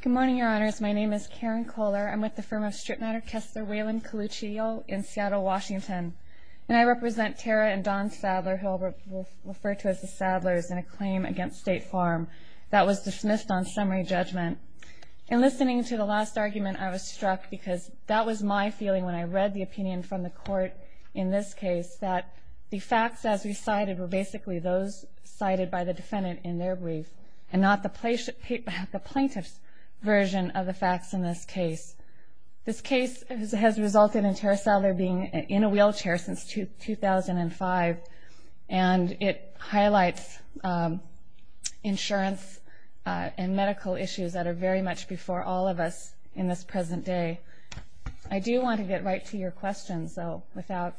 Good morning, Your Honors. My name is Karen Kohler. I'm with the firm of Stripmatter Tester Waylon Coluccio in Seattle, Washington. And I represent Tara and Don Sadler, who I'll refer to as the Sadlers, in a claim against State Farm that was dismissed on summary judgment. In listening to the last argument, I was struck, because that was my feeling when I read the opinion from the Court in this case, that the facts as recited were basically those cited by the defendant in their brief, and not the plaintiff's version of the facts in this case. This case has resulted in Tara Sadler being in a wheelchair since 2005, and it highlights insurance and medical issues that are very much before all of us in this present day. I do want to get right to your questions, though, without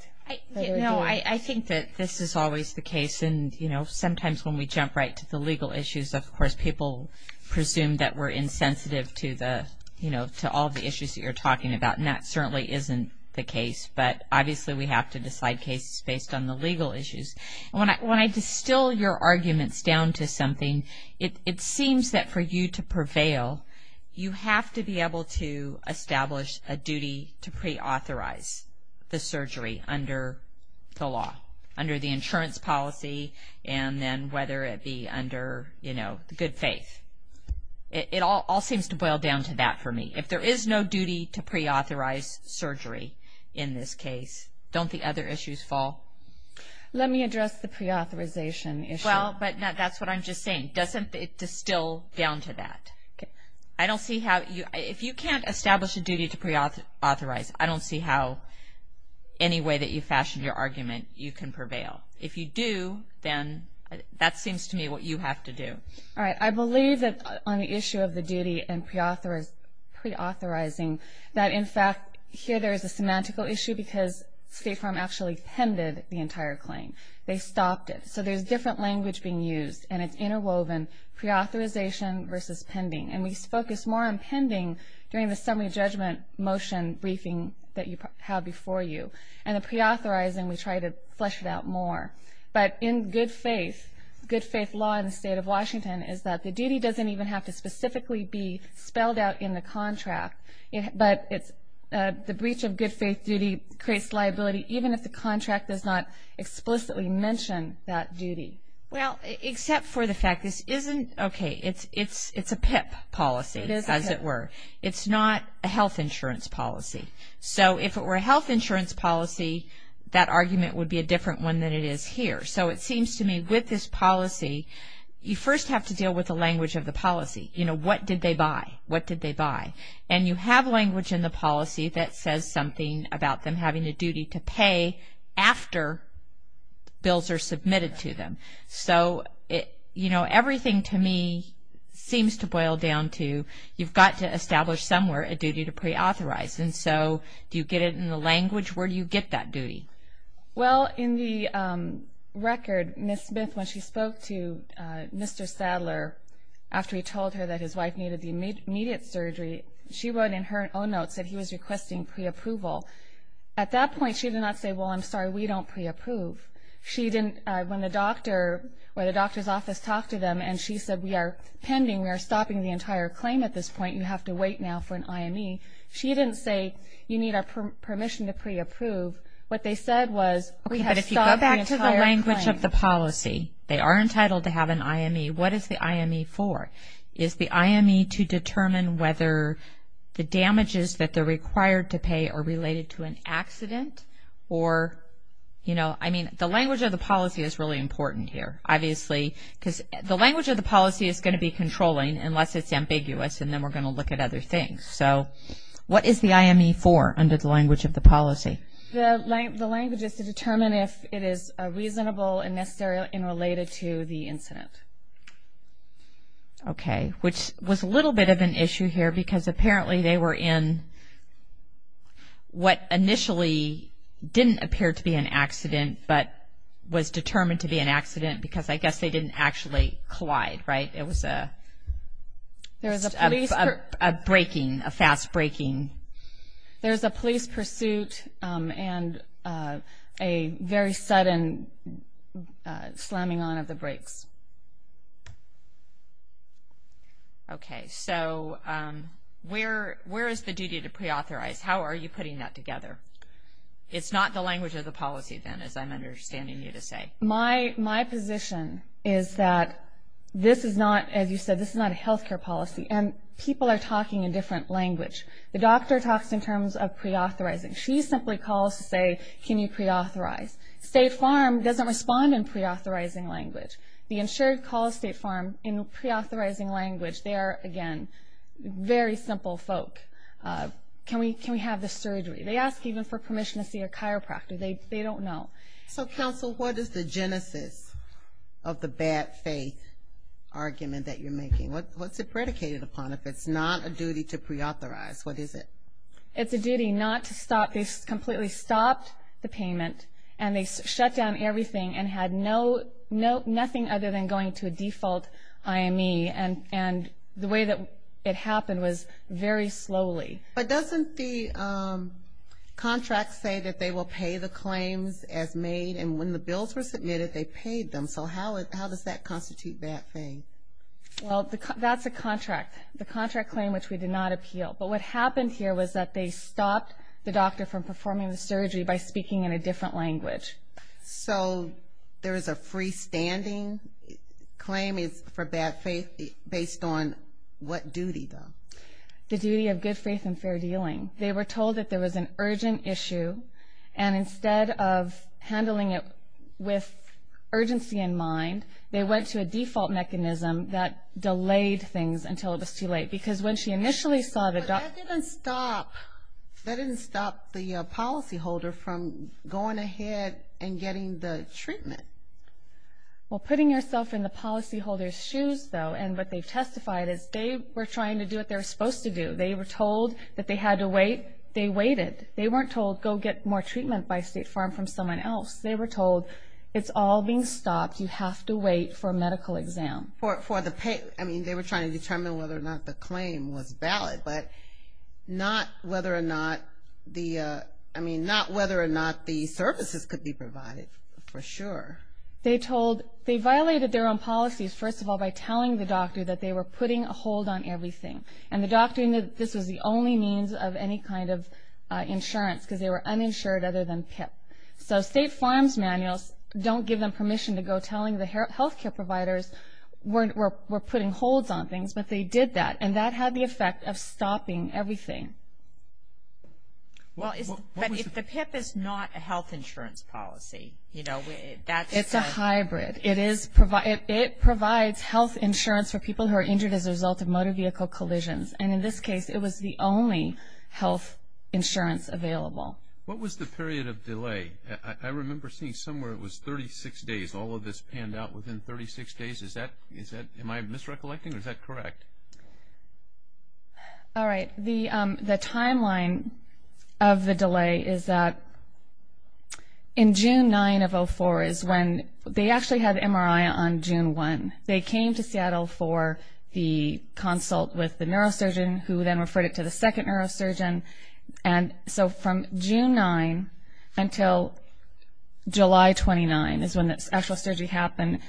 further ado. I think that this is always the case, and sometimes when we jump right to the legal issues, of course people presume that we're insensitive to all of the issues that you're talking about. And that certainly isn't the case, but obviously we have to decide cases based on the legal issues. When I distill your arguments down to something, it seems that for you to prevail, you have to be able to establish a duty to preauthorize the surgery under the law, under the insurance policy, and then whether it be under, you know, good faith. It all seems to boil down to that for me. If there is no duty to preauthorize surgery in this case, don't the other issues fall? Let me address the preauthorization issue. Well, but that's what I'm just saying. Doesn't it distill down to that? Okay. I don't see how you – if you can't establish a duty to preauthorize, I don't see how any way that you fashion your argument you can prevail. If you do, then that seems to me what you have to do. All right. I believe that on the issue of the duty and preauthorizing that, in fact, here there is a semantical issue because State Farm actually pended the entire claim. They stopped it. So there's different language being used, and it's interwoven, preauthorization versus pending. And we focus more on pending during the summary judgment motion briefing that you have before you. And the preauthorizing, we try to flesh it out more. But in good faith, good faith law in the State of Washington is that the duty doesn't even have to the breach of good faith duty creates liability even if the contract does not explicitly mention that duty. Well, except for the fact this isn't – okay, it's a PIP policy, as it were. It is a PIP. It's not a health insurance policy. So if it were a health insurance policy, that argument would be a different one than it is here. So it seems to me with this policy, you first have to deal with the language of the policy. You know, what did they buy? What did they buy? And you have language in the policy that says something about them having a duty to pay after bills are submitted to them. So, you know, everything to me seems to boil down to you've got to establish somewhere a duty to preauthorize. And so do you get it in the language? Where do you get that duty? Well, in the record, Ms. Smith, when she spoke to Mr. Sadler, after he told her that his wife needed the immediate surgery, she wrote in her own notes that he was requesting preapproval. At that point, she did not say, well, I'm sorry, we don't preapprove. She didn't – when the doctor or the doctor's office talked to them and she said we are pending, we are stopping the entire claim at this point, you have to wait now for an IME. She didn't say you need our permission to preapprove. What they said was we have stopped the entire claim. Okay, but if you go back to the language of the policy, they are entitled to have an IME. What is the IME for? Is the IME to determine whether the damages that they're required to pay are related to an accident or, you know, I mean, the language of the policy is really important here, obviously, because the language of the policy is going to be controlling unless it's ambiguous and then we're going to look at other things. So what is the IME for under the language of the policy? The language is to determine if it is reasonable and necessary and related to the incident. Okay, which was a little bit of an issue here because apparently they were in what initially didn't appear to be an accident but was determined to be an accident because I guess they didn't actually collide, right? It was a breaking, a fast breaking. There's a police pursuit and a very sudden slamming on of the brakes. Okay, so where is the duty to preauthorize? How are you putting that together? It's not the language of the policy then, as I'm understanding you to say. My position is that this is not, as you said, this is not a healthcare policy and people are talking in different language. The doctor talks in terms of preauthorizing. She simply calls to say, can you preauthorize? State Farm doesn't respond in preauthorizing language. The insured calls State Farm in preauthorizing language. They are, again, very simple folk. Can we have the surgery? They ask even for permission to see a chiropractor. They don't know. So, counsel, what is the genesis of the bad faith argument that you're making? What's it predicated upon if it's not a duty to preauthorize? What is it? It's a duty not to stop. They completely stopped the payment and they shut down everything and had nothing other than going to a default IME. And the way that it happened was very slowly. But doesn't the contract say that they will pay the claims as made? And when the bills were submitted, they paid them. So how does that constitute bad faith? Well, that's a contract, the contract claim which we did not appeal. But what happened here was that they stopped the doctor from performing the surgery by speaking in a different language. So there is a freestanding claim for bad faith based on what duty, though? The duty of good faith and fair dealing. They were told that there was an urgent issue, and instead of handling it with urgency in mind, they went to a default mechanism that delayed things until it was too late. Because when she initially saw the doctor... But that didn't stop the policyholder from going ahead and getting the treatment. Well, putting yourself in the policyholder's shoes, though, and what they testified is they were trying to do what they were supposed to do. They were told that they had to wait. They waited. They weren't told go get more treatment by state farm from someone else. They were told it's all being stopped. You have to wait for a medical exam. I mean, they were trying to determine whether or not the claim was valid, but not whether or not the services could be provided for sure. They violated their own policies, first of all, by telling the doctor that they were putting a hold on everything. And the doctor knew that this was the only means of any kind of insurance because they were uninsured other than PIP. So state farm's manuals don't give them permission to go telling the health care providers we're putting holds on things, but they did that, and that had the effect of stopping everything. But if the PIP is not a health insurance policy, you know, that's... It's a hybrid. It provides health insurance for people who are injured as a result of motor vehicle collisions. And in this case, it was the only health insurance available. What was the period of delay? I remember seeing somewhere it was 36 days. All of this panned out within 36 days. Am I misrecollecting, or is that correct? All right. The timeline of the delay is that in June 9 of 04 is when they actually had MRI on June 1. They came to Seattle for the consult with the neurosurgeon, who then referred it to the second neurosurgeon. And so from June 9 until July 29 is when the actual surgery happened.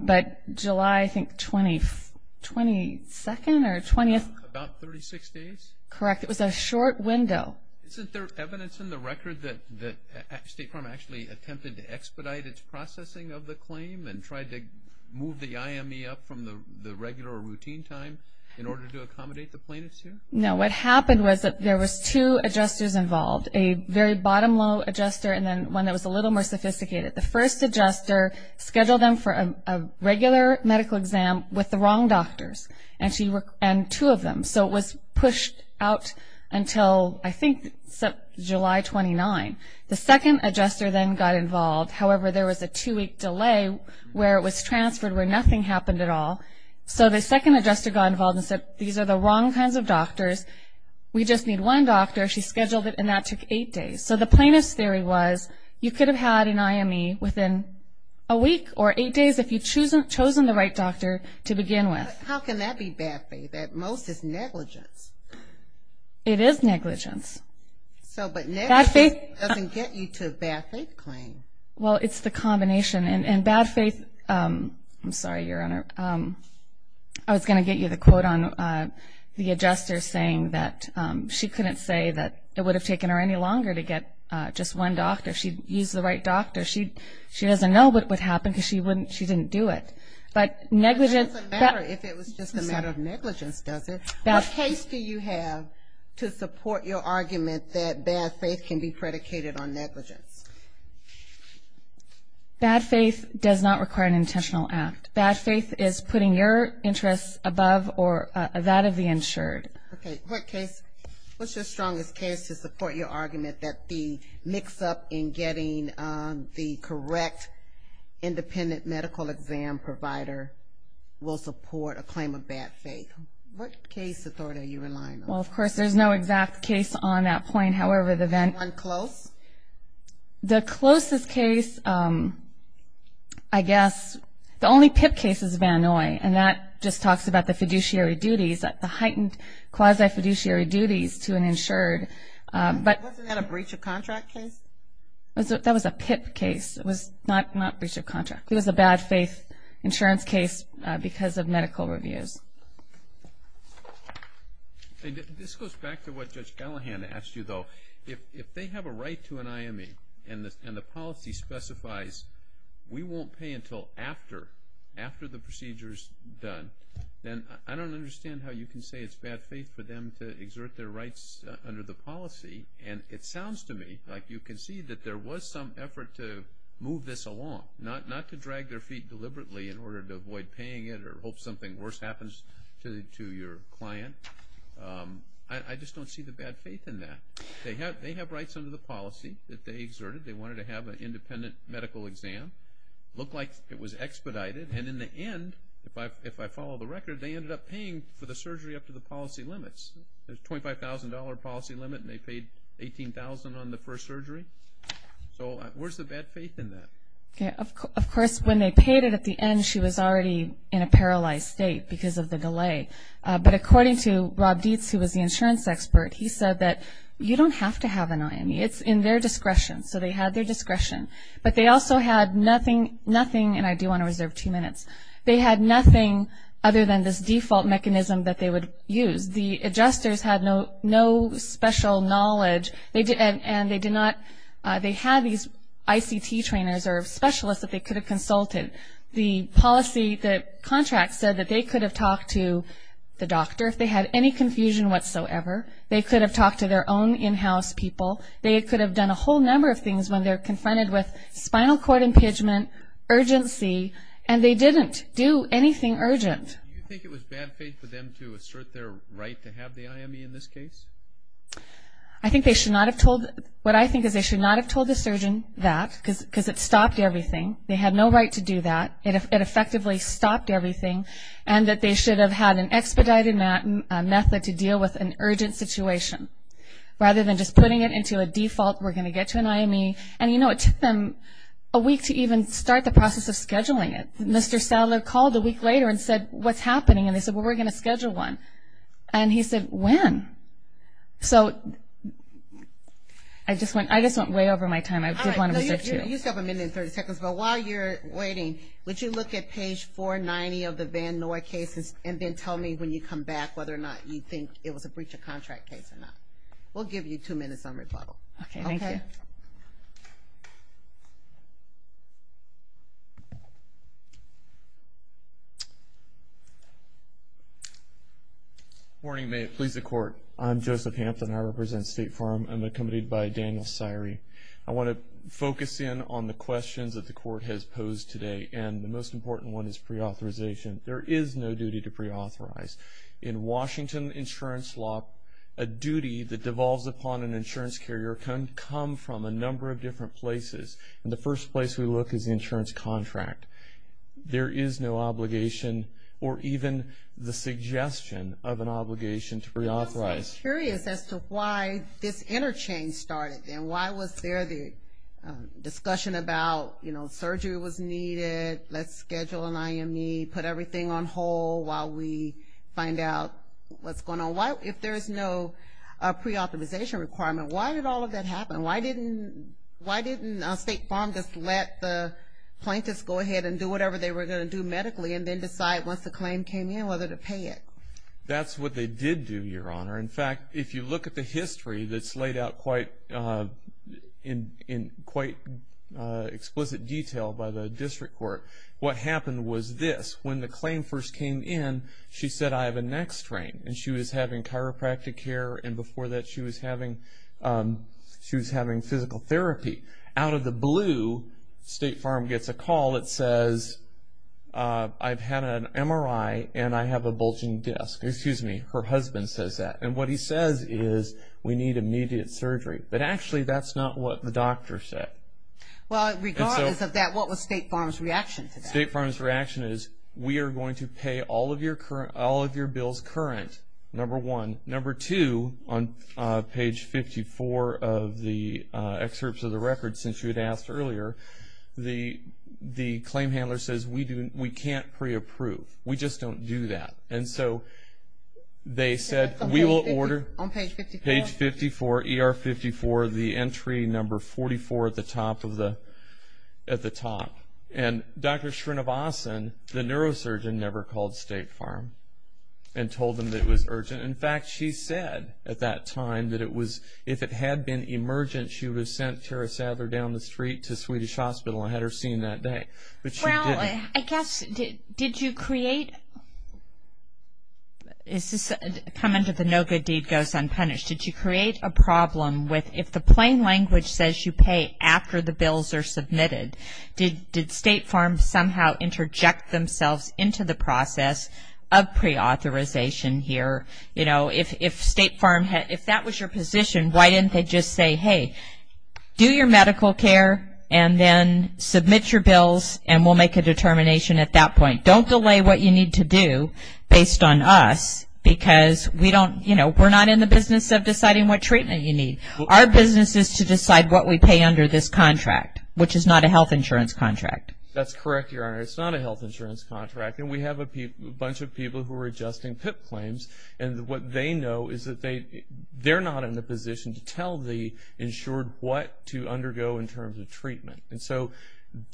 But July, I think, 22nd or 20th. About 36 days? Correct. It was a short window. Isn't there evidence in the record that state farm actually attempted to expedite its processing of the claim and tried to move the IME up from the regular routine time in order to accommodate the plaintiffs here? No. What happened was that there was two adjusters involved, a very bottom-low adjuster and then one that was a little more sophisticated. The first adjuster scheduled them for a regular medical exam with the wrong doctors, and two of them. So it was pushed out until, I think, July 29. The second adjuster then got involved. However, there was a two-week delay where it was transferred where nothing happened at all. So the second adjuster got involved and said, these are the wrong kinds of doctors. We just need one doctor. She scheduled it, and that took eight days. So the plaintiff's theory was you could have had an IME within a week or eight days if you'd chosen the right doctor to begin with. How can that be bad faith? At most, it's negligence. It is negligence. But negligence doesn't get you to a bad faith claim. Well, it's the combination. And bad faith, I'm sorry, Your Honor, I was going to get you the quote on the adjuster saying that she couldn't say that it would have taken her any longer to get just one doctor. She'd use the right doctor. She doesn't know what would happen because she didn't do it. But negligence doesn't matter if it was just a matter of negligence, does it? What case do you have to support your argument that bad faith can be predicated on negligence? Bad faith does not require an intentional act. Bad faith is putting your interests above that of the insured. Okay. What's your strongest case to support your argument that the mix-up in getting the correct independent medical exam provider will support a claim of bad faith? What case, Authority, are you relying on? Well, of course, there's no exact case on that point. Is there one close? The closest case, I guess, the only PIP case is Van Noy, and that just talks about the fiduciary duties, the heightened quasi-fiduciary duties to an insured. Wasn't that a breach of contract case? That was a PIP case. It was not breach of contract. It was a bad faith insurance case because of medical reviews. This goes back to what Judge Callahan asked you, though. If they have a right to an IME and the policy specifies we won't pay until after, after the procedure is done, then I don't understand how you can say it's bad faith for them to exert their rights under the policy. And it sounds to me like you can see that there was some effort to move this along, not to drag their feet deliberately in order to avoid paying it or hope something worse happens to your client. I just don't see the bad faith in that. They have rights under the policy that they exerted. They wanted to have an independent medical exam. It looked like it was expedited, and in the end, if I follow the record, they ended up paying for the surgery up to the policy limits. There's a $25,000 policy limit, and they paid $18,000 on the first surgery. So where's the bad faith in that? Of course, when they paid it at the end, she was already in a paralyzed state because of the delay. But according to Rob Dietz, who was the insurance expert, he said that you don't have to have an IME. It's in their discretion. So they had their discretion. But they also had nothing, and I do want to reserve two minutes, they had nothing other than this default mechanism that they would use. The adjusters had no special knowledge. They had these ICT trainers or specialists that they could have consulted. The policy, the contract said that they could have talked to the doctor if they had any confusion whatsoever. They could have talked to their own in-house people. They could have done a whole number of things when they're confronted with spinal cord impingement, urgency, and they didn't do anything urgent. Do you think it was bad faith for them to assert their right to have the IME in this case? I think they should not have told, what I think is they should not have told the surgeon that because it stopped everything. They had no right to do that. It effectively stopped everything, and that they should have had an expedited method to deal with an urgent situation rather than just putting it into a default, we're going to get to an IME. And, you know, it took them a week to even start the process of scheduling it. Mr. Sadler called a week later and said, what's happening? And they said, well, we're going to schedule one. And he said, when? So I just went way over my time. I did want to reserve two. You still have a minute and 30 seconds, but while you're waiting, would you look at page 490 of the Van Noy cases and then tell me when you come back whether or not you think it was a breach of contract case or not. We'll give you two minutes on rebuttal. Okay, thank you. Good morning. May it please the Court. I'm Joseph Hampton. I represent State Farm. I'm accompanied by Daniel Sirey. I want to focus in on the questions that the Court has posed today, and the most important one is preauthorization. There is no duty to preauthorize. In Washington insurance law, a duty that devolves upon an insurance carrier can come from a number of different places, and the first place we look is the insurance contract. There is no obligation or even the suggestion of an obligation to preauthorize. I'm curious as to why this interchange started, and why was there the discussion about, you know, surgery was needed, let's schedule an IME, put everything on hold while we find out what's going on. If there's no preauthorization requirement, why did all of that happen? And why didn't State Farm just let the plaintiffs go ahead and do whatever they were going to do medically and then decide once the claim came in whether to pay it? That's what they did do, Your Honor. In fact, if you look at the history that's laid out in quite explicit detail by the district court, what happened was this. When the claim first came in, she said, I have a neck strain, and she was having chiropractic care, and before that she was having physical therapy. Out of the blue, State Farm gets a call that says, I've had an MRI and I have a bulging disc. Excuse me, her husband says that. And what he says is, we need immediate surgery. But actually that's not what the doctor said. Well, regardless of that, what was State Farm's reaction to that? State Farm's reaction is, we are going to pay all of your bills current, number one. Number two, on page 54 of the excerpts of the record, since you had asked earlier, the claim handler says, we can't pre-approve. We just don't do that. And so they said, we will order page 54, ER 54, the entry number 44 at the top. And Dr. Srinivasan, the neurosurgeon, never called State Farm and told them that it was urgent. In fact, she said at that time that it was, if it had been emergent, she would have sent Tara Sather down the street to Swedish Hospital and had her seen that day. But she didn't. Well, I guess, did you create, this is coming to the no good deed goes unpunished. Did you create a problem with, if the plain language says you pay after the bills are submitted, did State Farm somehow interject themselves into the process of pre-authorization here? You know, if State Farm, if that was your position, why didn't they just say, hey, do your medical care and then submit your bills and we'll make a determination at that point. Don't delay what you need to do based on us because we don't, you know, we're not in the business of deciding what treatment you need. Our business is to decide what we pay under this contract, which is not a health insurance contract. That's correct, Your Honor. It's not a health insurance contract. And we have a bunch of people who are adjusting PIP claims. And what they know is that they're not in the position to tell the insured what to undergo in terms of treatment. And so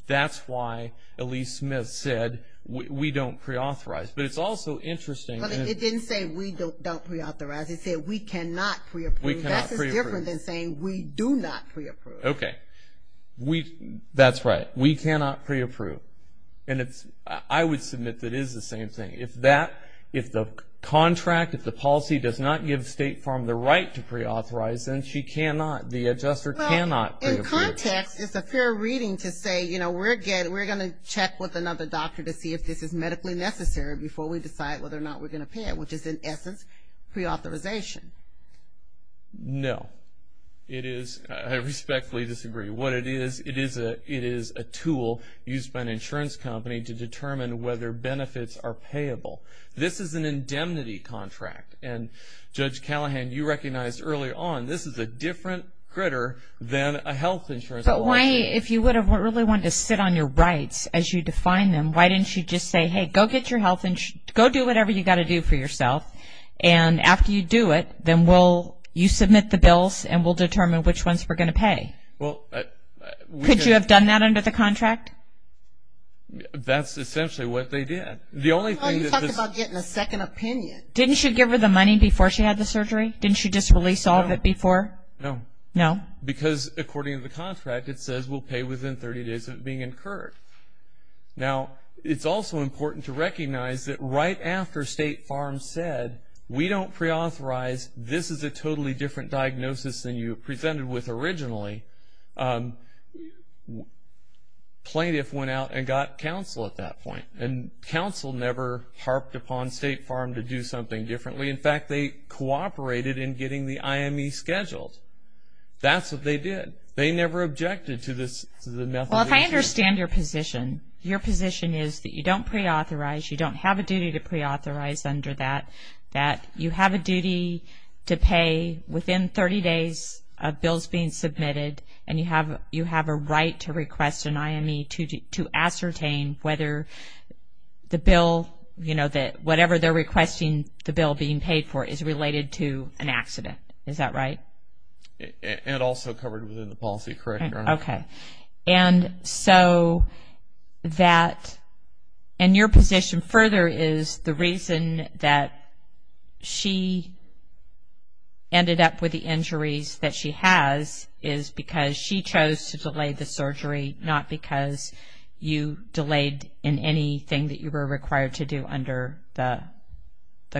that's why Elise Smith said we don't pre-authorize. But it's also interesting. But it didn't say we don't pre-authorize. It said we cannot pre-approve. That's different than saying we do not pre-approve. Okay. That's right. We cannot pre-approve. And I would submit that it is the same thing. If the contract, if the policy does not give State Farm the right to pre-authorize, then she cannot, the adjuster cannot pre-approve. Well, in context, it's a fair reading to say, you know, we're going to check with another doctor to see if this is medically necessary before we decide whether or not we're going to pay it, which is, in essence, pre-authorization. No. It is, I respectfully disagree. What it is, it is a tool used by an insurance company to determine whether benefits are payable. This is an indemnity contract. And, Judge Callahan, you recognized earlier on this is a different critter than a health insurance policy. But why, if you would have really wanted to sit on your rights as you define them, why didn't you just say, hey, go get your health insurance, go do whatever you've got to do for yourself, and after you do it, then we'll, you submit the bills and we'll determine which ones we're going to pay. Well, we could have. Could you have done that under the contract? That's essentially what they did. The only thing is this. I thought you talked about getting a second opinion. Didn't she give her the money before she had the surgery? Didn't she just release all of it before? No. No? Because, according to the contract, it says we'll pay within 30 days of it being incurred. Now, it's also important to recognize that right after State Farm said, we don't preauthorize, this is a totally different diagnosis than you presented with originally, plaintiff went out and got counsel at that point. And counsel never harped upon State Farm to do something differently. In fact, they cooperated in getting the IME scheduled. That's what they did. They never objected to the methodology. Well, if I understand your position, your position is that you don't preauthorize, you don't have a duty to preauthorize under that, that you have a duty to pay within 30 days of bills being submitted and you have a right to request an IME to ascertain whether the bill, whatever they're requesting the bill being paid for is related to an accident. Is that right? And also covered within the policy, correct, Your Honor? Okay. And so that, and your position further is the reason that she ended up with the injuries that she has is because she chose to delay the surgery, not because you delayed in anything that you were required to do under the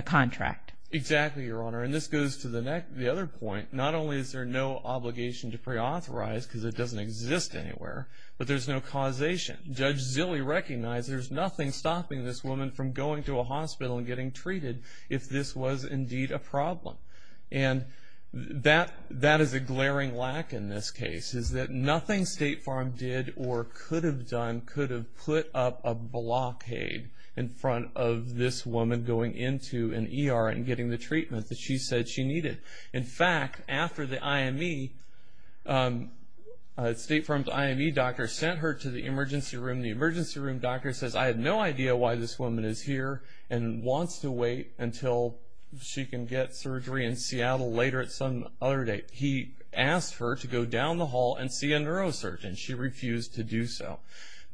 contract. Exactly, Your Honor. And this goes to the other point, not only is there no obligation to preauthorize because it doesn't exist anywhere, but there's no causation. Judge Zille recognized there's nothing stopping this woman from going to a hospital and getting treated if this was indeed a problem. And that is a glaring lack in this case, is that nothing State Farm did or could have done could have put up a blockade in front of this woman going into an ER and getting the treatment that she said she needed. In fact, after the IME, State Farm's IME doctor sent her to the emergency room. The emergency room doctor says, I have no idea why this woman is here and wants to wait until she can get surgery in Seattle later at some other date. He asked her to go down the hall and see a neurosurgeon. She refused to do so.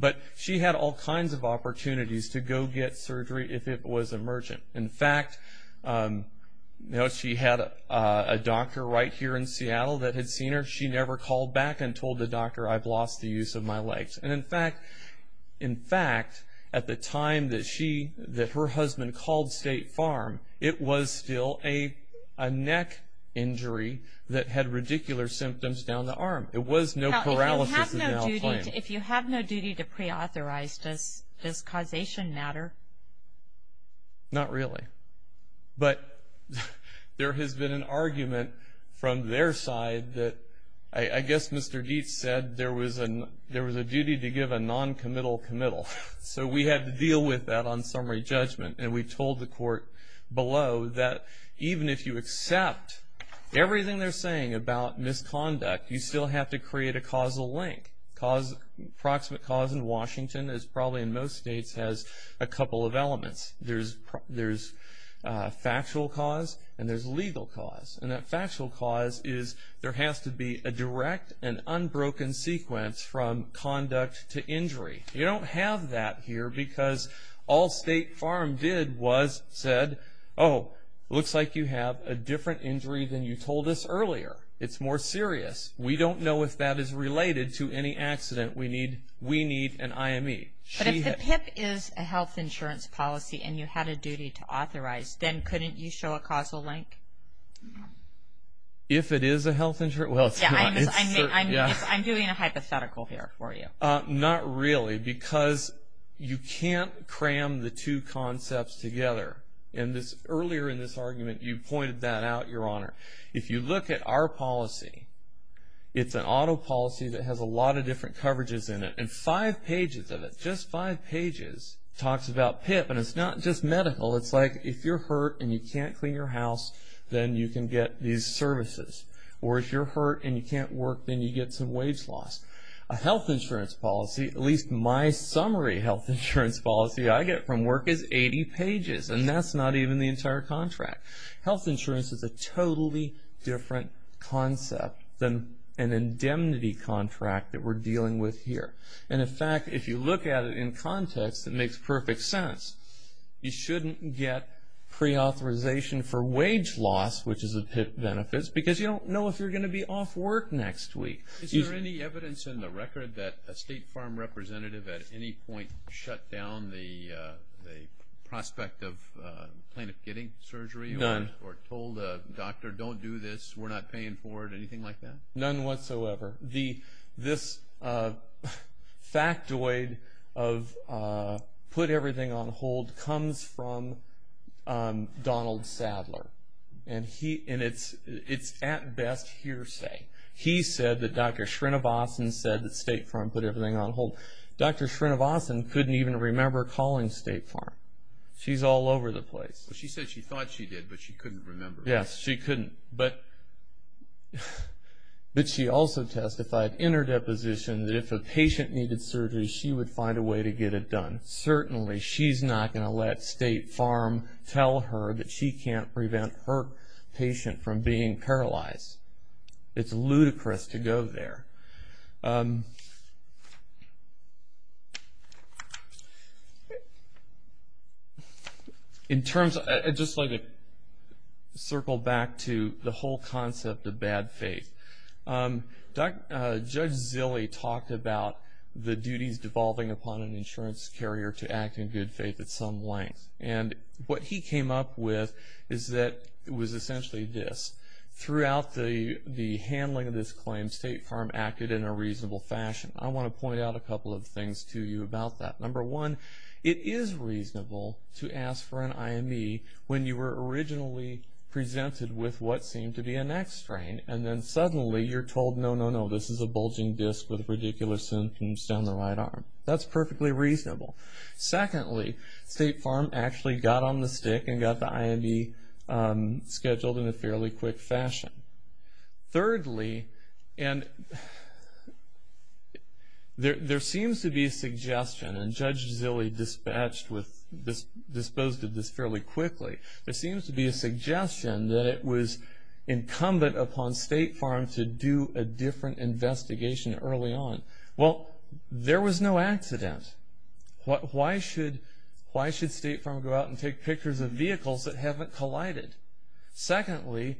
But she had all kinds of opportunities to go get surgery if it was emergent. In fact, she had a doctor right here in Seattle that had seen her. She never called back and told the doctor, I've lost the use of my legs. In fact, at the time that her husband called State Farm, it was still a neck injury that had radicular symptoms down the arm. It was no paralysis of the arm. If you have no duty to preauthorize, does causation matter? Not really. But there has been an argument from their side that I guess Mr. Dietz said there was a duty to give a noncommittal committal. So we had to deal with that on summary judgment. And we told the court below that even if you accept everything they're saying about misconduct, you still have to create a causal link. Proximate cause in Washington, as probably in most states, has a couple of elements. There's factual cause and there's legal cause. And that factual cause is there has to be a direct and unbroken sequence from conduct to injury. You don't have that here because all State Farm did was said, oh, looks like you have a different injury than you told us earlier. It's more serious. We don't know if that is related to any accident. We need an IME. But if the PIP is a health insurance policy and you had a duty to authorize, then couldn't you show a causal link? If it is a health insurance? Well, it's not. I'm doing a hypothetical here for you. Not really because you can't cram the two concepts together. And earlier in this argument you pointed that out, Your Honor. If you look at our policy, it's an auto policy that has a lot of different coverages in it. And five pages of it, just five pages, talks about PIP. And it's not just medical. It's like if you're hurt and you can't clean your house, then you can get these services. Or if you're hurt and you can't work, then you get some wage loss. A health insurance policy, at least my summary health insurance policy I get from work, is 80 pages. And that's not even the entire contract. Health insurance is a totally different concept than an indemnity contract that we're dealing with here. And, in fact, if you look at it in context, it makes perfect sense. You shouldn't get preauthorization for wage loss, which is a PIP benefit, because you don't know if you're going to be off work next week. Is there any evidence in the record that a State Farm representative at any point shut down the prospect of plaintiff getting surgery or told a doctor, don't do this, we're not paying for it, anything like that? None whatsoever. This factoid of put everything on hold comes from Donald Sadler. And it's at best hearsay. He said that Dr. Srinivasan said that State Farm put everything on hold. Dr. Srinivasan couldn't even remember calling State Farm. She's all over the place. She said she thought she did, but she couldn't remember. Yes, she couldn't. But she also testified in her deposition that if a patient needed surgery, she would find a way to get it done. Certainly she's not going to let State Farm tell her that she can't prevent her patient from being paralyzed. It's ludicrous to go there. Just to circle back to the whole concept of bad faith, Judge Zille talked about the duties devolving upon an insurance carrier to act in good faith at some length. And what he came up with is that it was essentially this. Throughout the handling of this claim, State Farm acted in a reasonable fashion. I want to point out a couple of things to you about that. Number one, it is reasonable to ask for an IME when you were originally presented with what seemed to be an X-strain, and then suddenly you're told, no, no, no, this is a bulging disc with ridiculous symptoms down the right arm. That's perfectly reasonable. Secondly, State Farm actually got on the stick and got the IME scheduled in a fairly quick fashion. Thirdly, there seems to be a suggestion, and Judge Zille disposed of this fairly quickly, there seems to be a suggestion that it was incumbent upon State Farm to do a different investigation early on. Well, there was no accident. Why should State Farm go out and take pictures of vehicles that haven't collided? Secondly,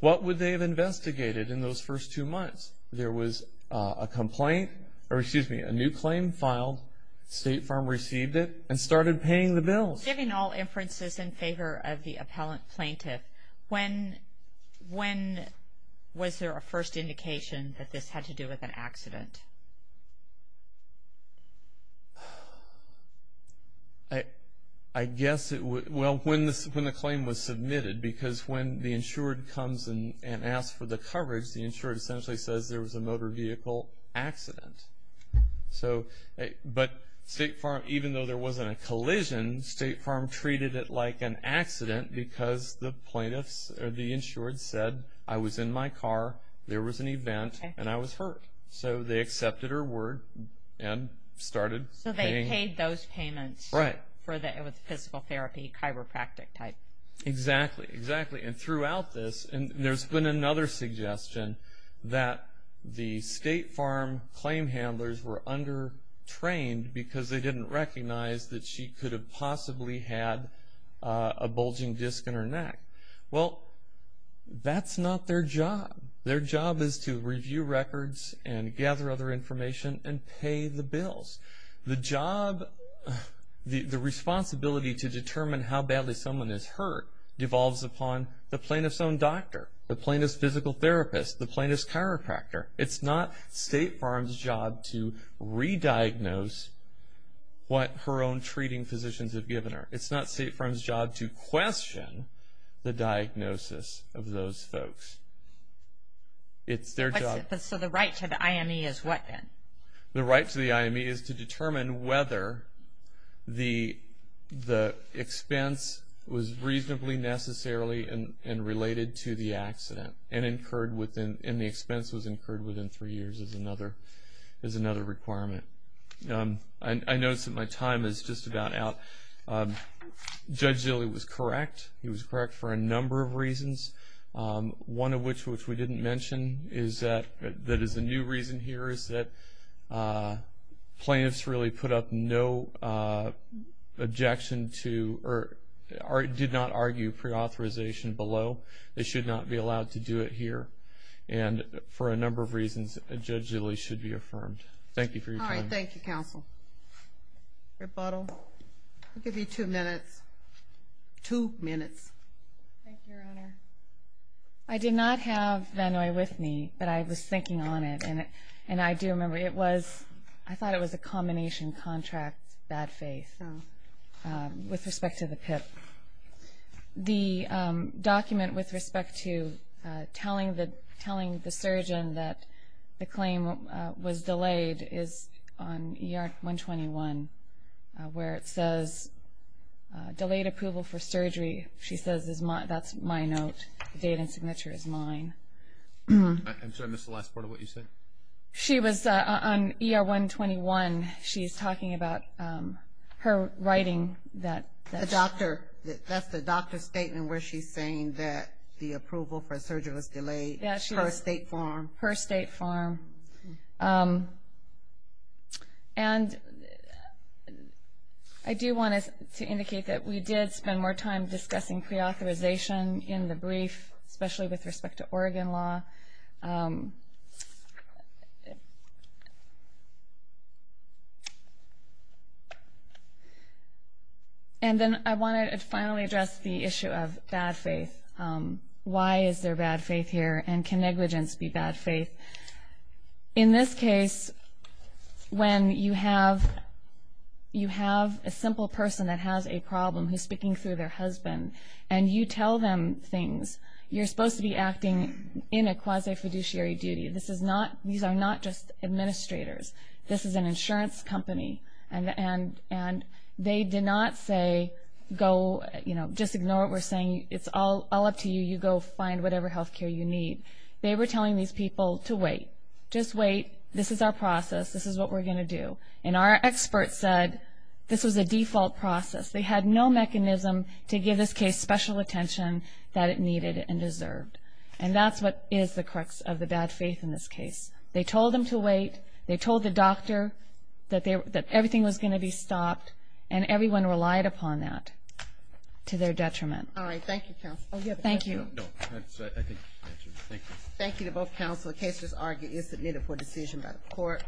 what would they have investigated in those first two months? There was a complaint, or excuse me, a new claim filed. State Farm received it and started paying the bills. Giving all inferences in favor of the appellant plaintiff, when was there a first indication that this had to do with an accident? I guess it was, well, when the claim was submitted, because when the insured comes and asks for the coverage, the insured essentially says there was a motor vehicle accident. So, but State Farm, even though there wasn't a collision, State Farm treated it like an accident because the plaintiffs, or the insured, said I was in my car, there was an event, and I was hurt. So, they accepted her word and started paying. So, they paid those payments for the physical therapy, chiropractic type. Exactly, exactly. And throughout this, there's been another suggestion that the State Farm claim handlers were under-trained because they didn't recognize that she could have possibly had a bulging disc in her neck. Well, that's not their job. Their job is to review records and gather other information and pay the bills. The job, the responsibility to determine how badly someone is hurt devolves upon the plaintiff's own doctor, the plaintiff's physical therapist, the plaintiff's chiropractor. It's not State Farm's job to re-diagnose what her own treating physicians have given her. It's not State Farm's job to question the diagnosis of those folks. It's their job. So, the right to the IME is what then? The right to the IME is to determine whether the expense was reasonably necessarily and related to the accident, and the expense was incurred within three years is another requirement. I notice that my time is just about out. Judge Zille was correct. He was correct for a number of reasons, one of which we didn't mention that is a new reason here is that plaintiffs really put up no objection to or did not argue pre-authorization below. They should not be allowed to do it here. And for a number of reasons, Judge Zille should be affirmed. Thank you for your time. All right. Thank you, counsel. Rebuttal. I'll give you two minutes. Two minutes. Thank you, Your Honor. I did not have Benoit with me, but I was thinking on it, and I do remember I thought it was a combination contract, bad faith, with respect to the PIP. The document with respect to telling the surgeon that the claim was delayed is on ER 121, where it says delayed approval for surgery. She says that's my note. The date and signature is mine. I'm sorry, I missed the last part of what you said. She was on ER 121. She's talking about her writing. That's the doctor's statement where she's saying that the approval for surgery was delayed. Yes, she is. Her state form. Her state form. And I do want to indicate that we did spend more time discussing pre-authorization in the brief, especially with respect to Oregon law. And then I want to finally address the issue of bad faith. Why is there bad faith here, and can negligence be bad faith? In this case, when you have a simple person that has a problem who's speaking through their husband, and you tell them things, you're supposed to be acting in a quasi-fiduciary duty. These are not just administrators. This is an insurance company. And they did not say go, you know, just ignore what we're saying. It's all up to you. You go find whatever health care you need. They were telling these people to wait. Just wait. This is our process. This is what we're going to do. And our experts said this was a default process. They had no mechanism to give this case special attention that it needed and deserved. And that's what is the crux of the bad faith in this case. They told them to wait. They told the doctor that everything was going to be stopped. And everyone relied upon that to their detriment. All right. Thank you, counsel. Thank you. The case is argued and submitted for decision by the court.